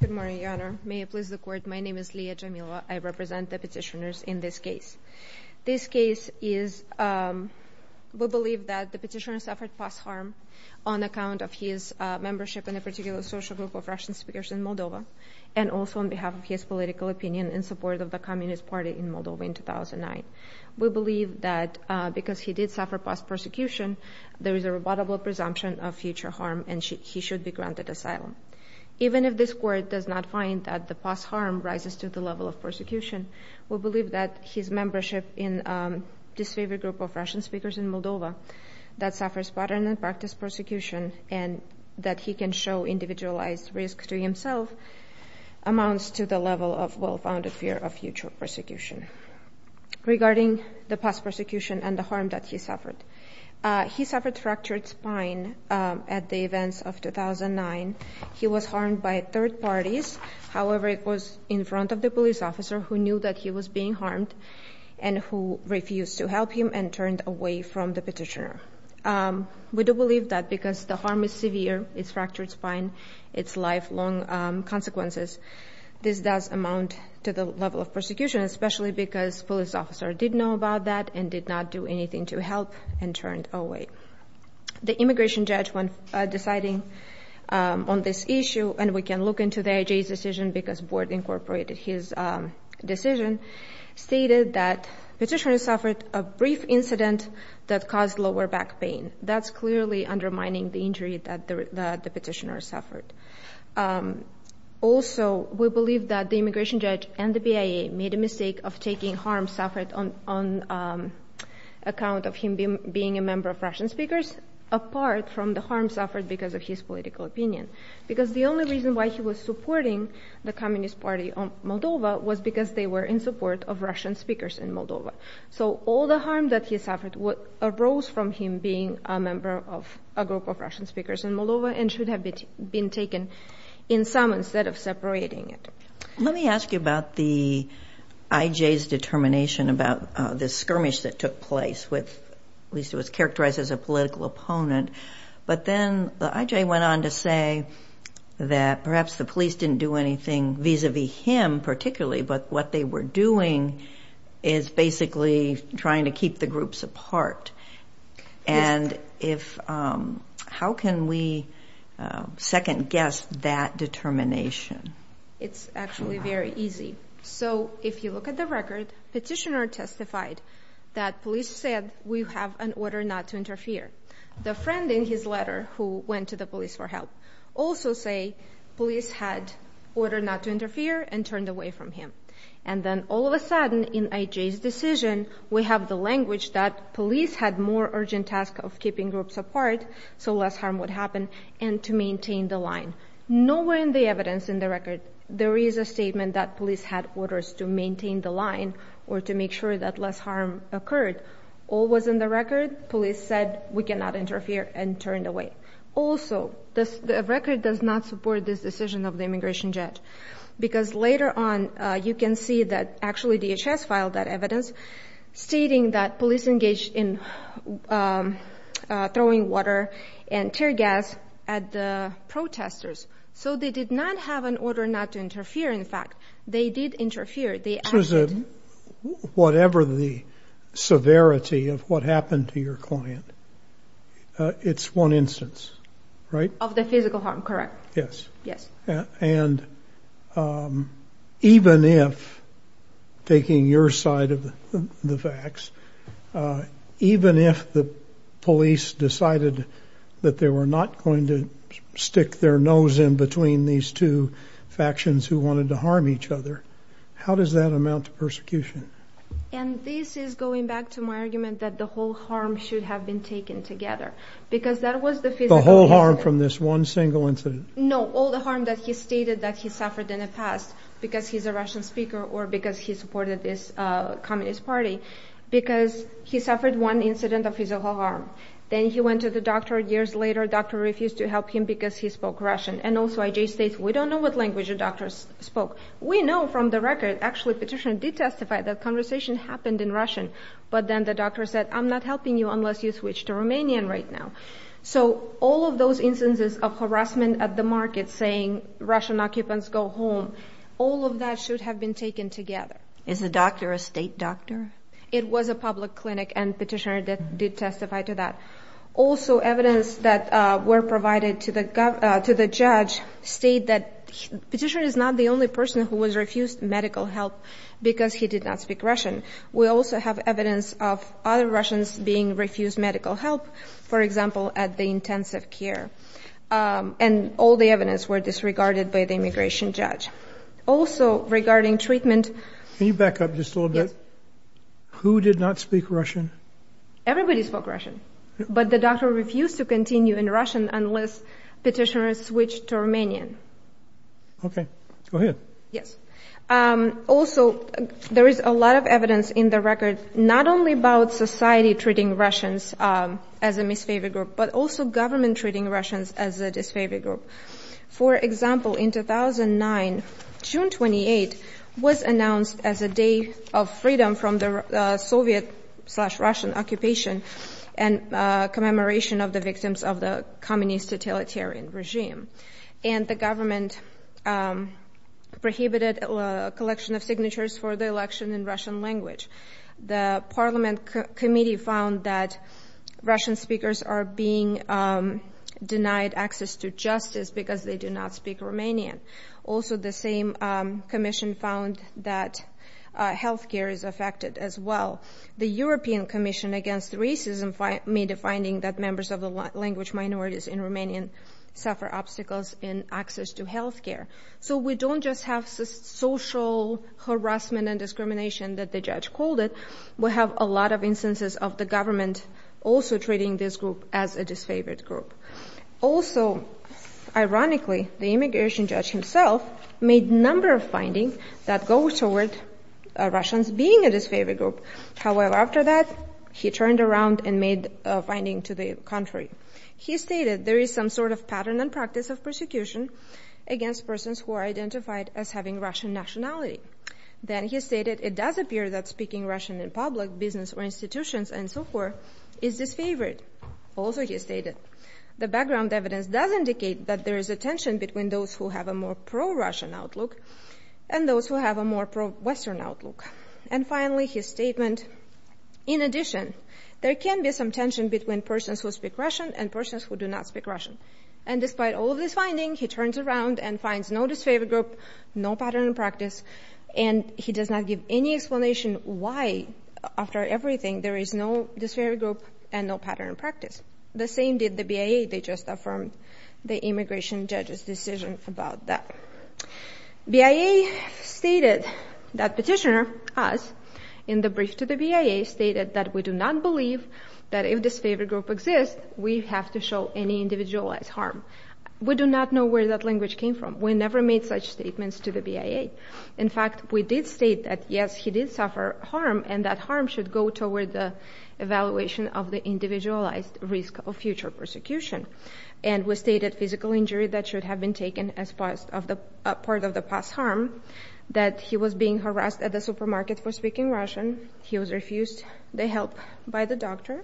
Good morning, Your Honor. May it please the Court, my name is Liya Jamilova. I represent the petitioners in this case. This case is we believe that the petitioner suffered past harm on account of his membership in a particular social group of Russian speakers in Moldova and also on behalf of his political opinion in support of the Communist Party in Moldova in 2009. We believe that because he did suffer past persecution, there is a rebuttable presumption of future harm and he should be granted asylum. Even if this Court does not find that the past harm rises to the level of persecution, we believe that his membership in disfavored group of Russian speakers in Moldova that suffers pattern and practice persecution and that he can show individualized risks to himself amounts to the level of well-founded fear of future persecution. Regarding the past persecution and the harm that he suffered, he suffered fractured spine at the events of 2009 He was harmed by third parties. However, it was in front of the police officer who knew that he was being harmed and who refused to help him and turned away from the petitioner. We do believe that because the harm is severe, it's fractured spine, it's lifelong consequences. This does amount to the level of persecution especially because police officer did know about that and did not do anything to help and turned away. The immigration judge when deciding on this issue, and we can look into the IJ's decision because board incorporated his decision, stated that petitioner suffered a brief incident that caused lower back pain. That's clearly undermining the injury that the petitioner suffered. Also, we believe that the immigration judge and the BIA made a mistake of taking harm suffered on account of him being a member of Russian speakers apart from the harm suffered because of his political opinion. Because the only reason why he was supporting the Communist Party on Moldova was because they were in support of Russian speakers in Moldova. So all the harm that he suffered arose from him being a member of a group of Russian speakers in Moldova and should have been taken in some instead of separating it. Let me ask you about the IJ's determination about this skirmish that took place with, at least it was characterized as a political opponent, but then the IJ went on to say that perhaps the police didn't do anything vis-a-vis him particularly, but what they were doing is basically trying to keep the groups apart. How can we second-guess that determination? It's actually very easy. So if you look at the record, the petitioner testified that police said we have an order not to interfere. The friend in his letter who went to the police for help also said police had order not to interfere and turned away from him. And then all of a sudden in IJ's decision we have the language that police had more urgent task of keeping groups apart so less harm would happen and to maintain the line. Nowhere in the evidence in the record there is a statement that police had orders to maintain the line or to make sure that less harm occurred. All was in the record. Police said we cannot interfere and turned away. Also, the record does not support this decision of the immigration judge because later on you can see that actually DHS filed that evidence stating that police engaged in throwing water and tear gas at the protesters. So they did not have an order not to interfere. In fact, they did interfere. Whatever the severity of what happened to your client, it's one instance, right? Of the physical harm, correct. Yes. Yes. And even if, taking your side of the facts, even if the police decided that they were not going to stick their nose in between these two factions who wanted to harm each other, how does that amount to persecution? And this is going back to my argument that the whole harm should have been taken together because that was the physical harm. The whole harm from this one single incident? No, all the harm that he stated that he suffered in the past because he's a Russian speaker or because he supported this because he suffered one incident of physical harm. Then he went to the doctor. Years later, doctor refused to help him because he spoke Russian. And also IJ states, we don't know what language the doctor spoke. We know from the record, actually petitioner did testify that conversation happened in Russian. But then the doctor said, I'm not helping you unless you switch to Romanian right now. So all of those instances of harassment at the market saying Russian occupants go home, all of that should have been taken together. Is the doctor a state doctor? It was a public clinic and petitioner that did testify to that. Also evidence that were provided to the judge state that petitioner is not the only person who was refused medical help because he did not speak Russian. We also have evidence of other Russians being refused medical help, for example, at the intensive care. And all the evidence were disregarded by the immigration judge. Also regarding treatment. Can you back up just a little bit? Who did not speak Russian? Everybody spoke Russian, but the doctor refused to continue in Russian unless petitioner switched to Romanian. Okay, go ahead. Yes. Also, there is a lot of evidence in the record, not only about society treating Russians as a misfavor group, but also government treating Russians as a disfavor group. For example, in 2009, June 28 was announced as a day of freedom from the Soviet-Russian occupation and commemoration of the victims of the communist totalitarian regime. And the government prohibited collection of signatures for the election in Russian language. The parliament committee found that Russian speakers are being denied access to justice because they do not speak Romanian. Also, the same commission found that health care is affected as well. The European Commission Against Racism made a finding that members of the language minorities in Romanian suffer obstacles in access to health care. So we don't just have social harassment and discrimination that the judge called it. We have a lot of instances of the government also treating this group as a disfavored group. Also, ironically, the immigration judge himself made a number of findings that go toward Russians being a disfavored group. However, after that, he turned around and made a finding to the contrary. He stated there is some sort of pattern and practice of persecution against persons who are identified as having Russian nationality. Then he stated it does appear that speaking Russian in public business or institutions and so forth is disfavored. Also, he stated the background evidence does indicate that there is a tension between those who have a more pro-Russian outlook and those who have a more pro-Western outlook. And finally, his statement, in addition, there can be some tension between persons who speak Russian and persons who do not speak Russian. And despite all of this finding, he turns around and finds no disfavored group, no pattern and practice. And he does not give any explanation why, after everything, there is no disfavored group and no pattern and practice. The same did the BIA. They just affirmed the immigration judge's decision about that. BIA stated that petitioner, us, in the brief to the BIA, stated that we do not believe that if disfavored group exists, we have to show any individualized harm. We do not know where that language came from. We never made such statements to the BIA. In fact, we did state that, yes, he did suffer harm and that harm should go toward the evaluation of the individualized risk of future persecution. And we stated physical injury that should have been taken as part of the past harm, that he was being harassed at the supermarket for speaking Russian. He was refused the help by the doctor.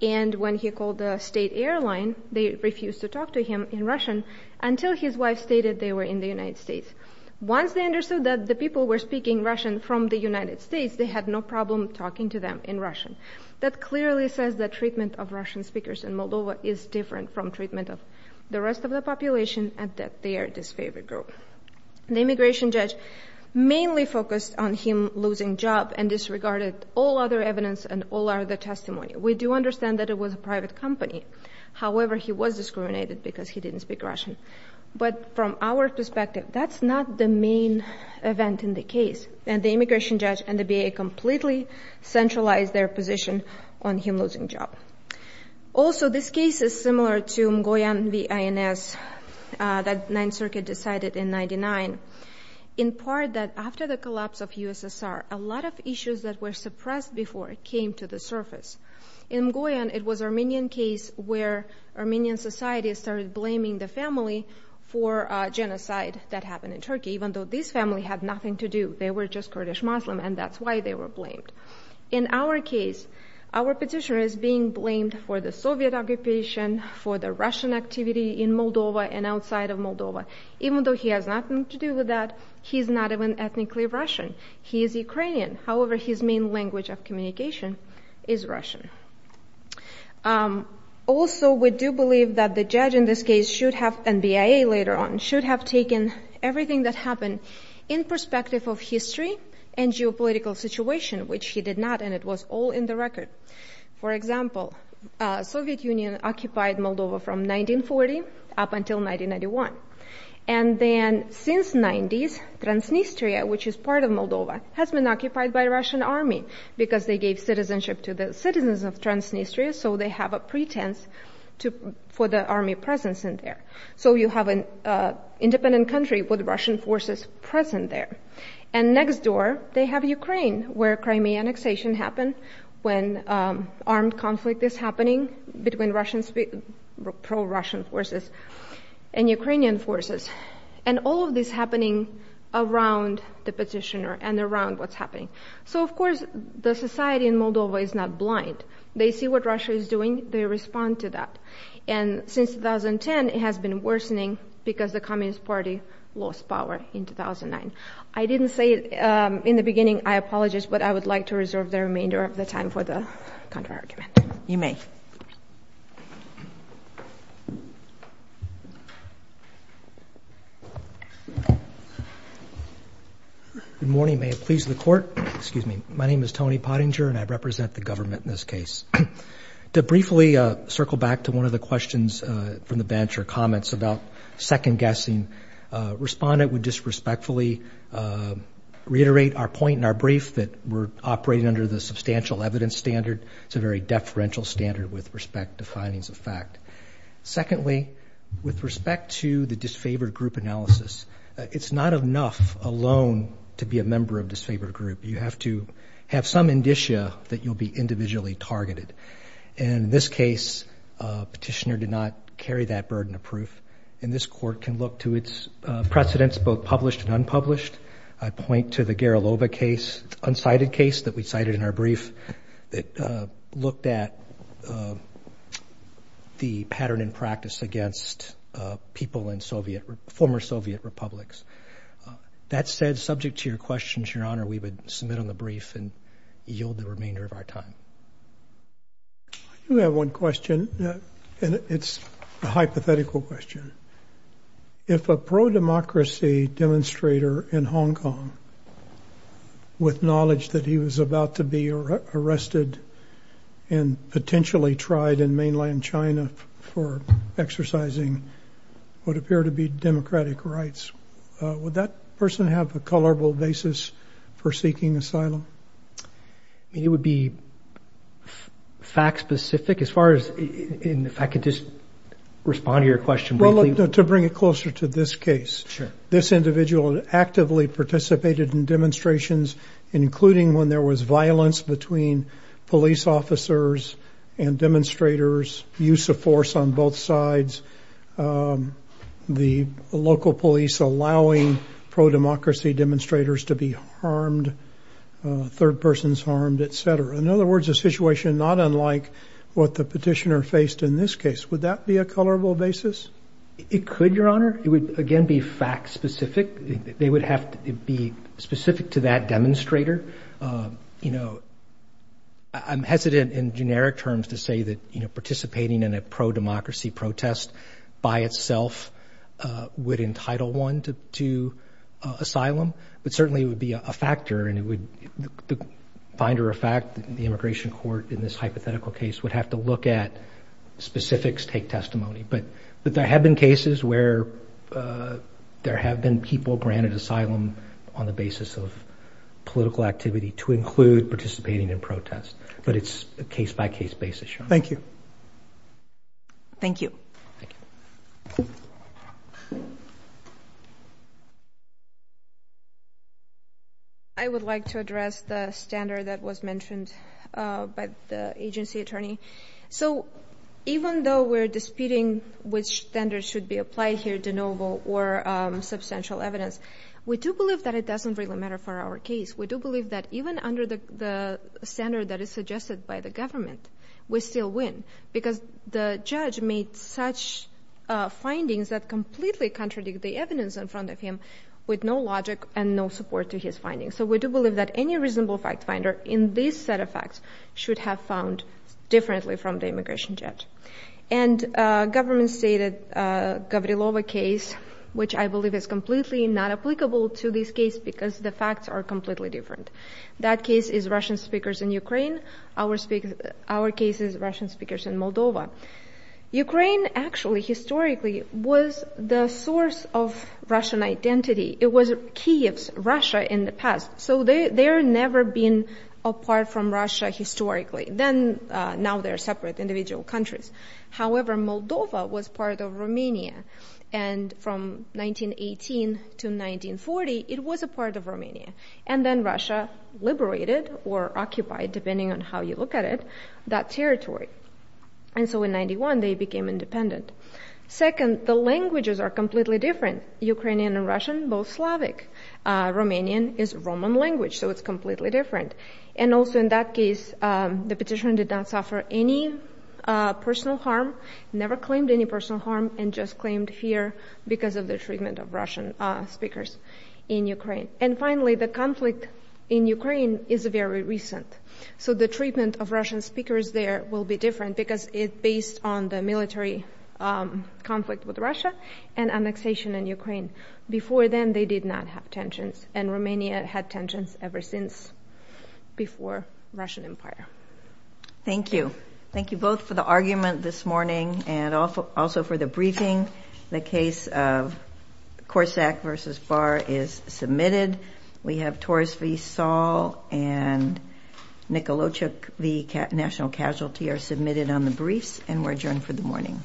And when he called the state airline, they refused to talk to him in Russian until his wife stated they were in the United States. Once they understood that the people were speaking Russian from the United States, they had no problem talking to them in Russian. That clearly says that treatment of Russian speakers in Moldova is different from treatment of the rest of the population and that they are disfavored group. The immigration judge mainly focused on him losing job and disregarded all other evidence and all other testimony. We do understand that it was a private company. However, he was discriminated because he didn't speak Russian. But from our perspective, that's not the main event in the case. And the immigration judge and the BIA completely centralized their position on him losing job. Also, this case is similar to Mgoyan v. INS that Ninth Circuit decided in 99. In part, that after the collapse of USSR, a lot of issues that were suppressed before it came to the surface. In Mgoyan, it was Armenian case where Armenian society started blaming the family for genocide that happened in Turkey, even though this family had nothing to do. They were just Kurdish Muslim, and that's why they were blamed. In our case, our petitioner is being blamed for the Soviet occupation, for the Russian activity in Moldova and outside of Moldova. Even though he has nothing to do with that, he's not even ethnically Russian. He is Ukrainian. However, his main language of communication is Russian. Also, we do believe that the judge in this case should have, and BIA later on, should have taken everything that happened in perspective of history and geopolitical situation, which he did not. And it was all in the record. For example, Soviet Union occupied Moldova from 1940 up until 1991. And then since 90s, Transnistria, which is part of Moldova, has been occupied by Russian army because they gave citizenship to the citizens of Transnistria, so they have a pretense for the army presence in there. So you have an independent country with Russian forces present there. And next door, they have Ukraine, where Crimean annexation happened when armed conflict is happening between pro-Russian forces. And Ukrainian forces, and all of this happening around the petitioner and around what's happening. So, of course, the society in Moldova is not blind. They see what Russia is doing. They respond to that. And since 2010, it has been worsening because the Communist Party lost power in 2009. I didn't say it in the beginning. I apologize, but I would like to reserve the remainder of the time for the counterargument. You may. Good morning. May it please the court. Excuse me. My name is Tony Pottinger, and I represent the government in this case. To briefly circle back to one of the questions from the bench or comments about second guessing, respondent would just respectfully reiterate our point in our brief that we're operating under the substantial evidence standard. It's a very deferential standard with respect to findings of fact. Secondly, with respect to the disfavored group analysis, it's not enough alone to be a member of disfavored group. You have to have some indicia that you'll be individually targeted. In this case, petitioner did not carry that burden of proof. And this court can look to its precedents, both published and unpublished. I point to the Garilova case, unsighted case that we cited in our brief that looked at the pattern in practice against people in former Soviet republics. That said, subject to your questions, Your Honor, we would submit on the brief and yield the remainder of our time. You have one question, and it's a hypothetical question. If a pro-democracy demonstrator in Hong Kong, with knowledge that he was about to be arrested and potentially tried in mainland China for exercising what appear to be democratic rights, would that person have a colorable basis for seeking asylum? It would be fact specific as far as if I could just respond to your question. To bring it closer to this case, this individual actively participated in demonstrations, including when there was violence between police officers and demonstrators, use of force on both sides. The local police allowing pro-democracy demonstrators to be harmed, third persons harmed, etc. In other words, a situation not unlike what the petitioner faced in this case. Would that be a colorable basis? It could, Your Honor. It would, again, be fact specific. They would have to be specific to that demonstrator. You know, I'm hesitant in generic terms to say that, you know, participating in a pro-democracy protest by itself would entitle one to asylum. But certainly it would be a factor and it would, the finder of fact, the immigration court in this hypothetical case would have to look at specifics, take testimony. But there have been cases where there have been people granted asylum on the basis of political activity to include participating in protests. But it's a case by case basis. Thank you. Thank you. I would like to address the standard that was mentioned by the agency attorney. So even though we're disputing which standard should be applied here, de novo or substantial evidence, we do believe that it doesn't really matter for our case. We do believe that even under the standard that is suggested by the government, we still win because the judge made such findings that completely contradict the evidence in front of him with no logic and no support to his findings. So we do believe that any reasonable fact finder in this set of facts should have found differently from the immigration judge. And government stated Gavrilova case, which I believe is completely not applicable to this case because the facts are completely different. That case is Russian speakers in Ukraine. Our case is Russian speakers in Moldova. Ukraine actually historically was the source of Russian identity. It was Kiev's Russia in the past. So they're never been apart from Russia historically. Then now they're separate individual countries. However, Moldova was part of Romania and from 1918 to 1940, it was a part of Romania. And then Russia liberated or occupied, depending on how you look at it, that territory. And so in 91, they became independent. Second, the languages are completely different. Ukrainian and Russian, both Slavic. Romanian is Roman language, so it's completely different. And also in that case, the petitioner did not suffer any personal harm, never claimed any personal harm, and just claimed here because of the treatment of Russian speakers in Ukraine. And finally, the conflict in Ukraine is very recent. So the treatment of Russian speakers there will be different because it's based on the military conflict with Russia and annexation in Ukraine. Before then, they did not have tensions and Romania had tensions ever since before Russian empire. Thank you. Thank you both for the argument this morning and also for the briefing. The case of Korsak versus Barr is submitted. We have Torres v. Saul and Nikolochuk v. National Casualty are submitted on the briefs and we're adjourned for the morning.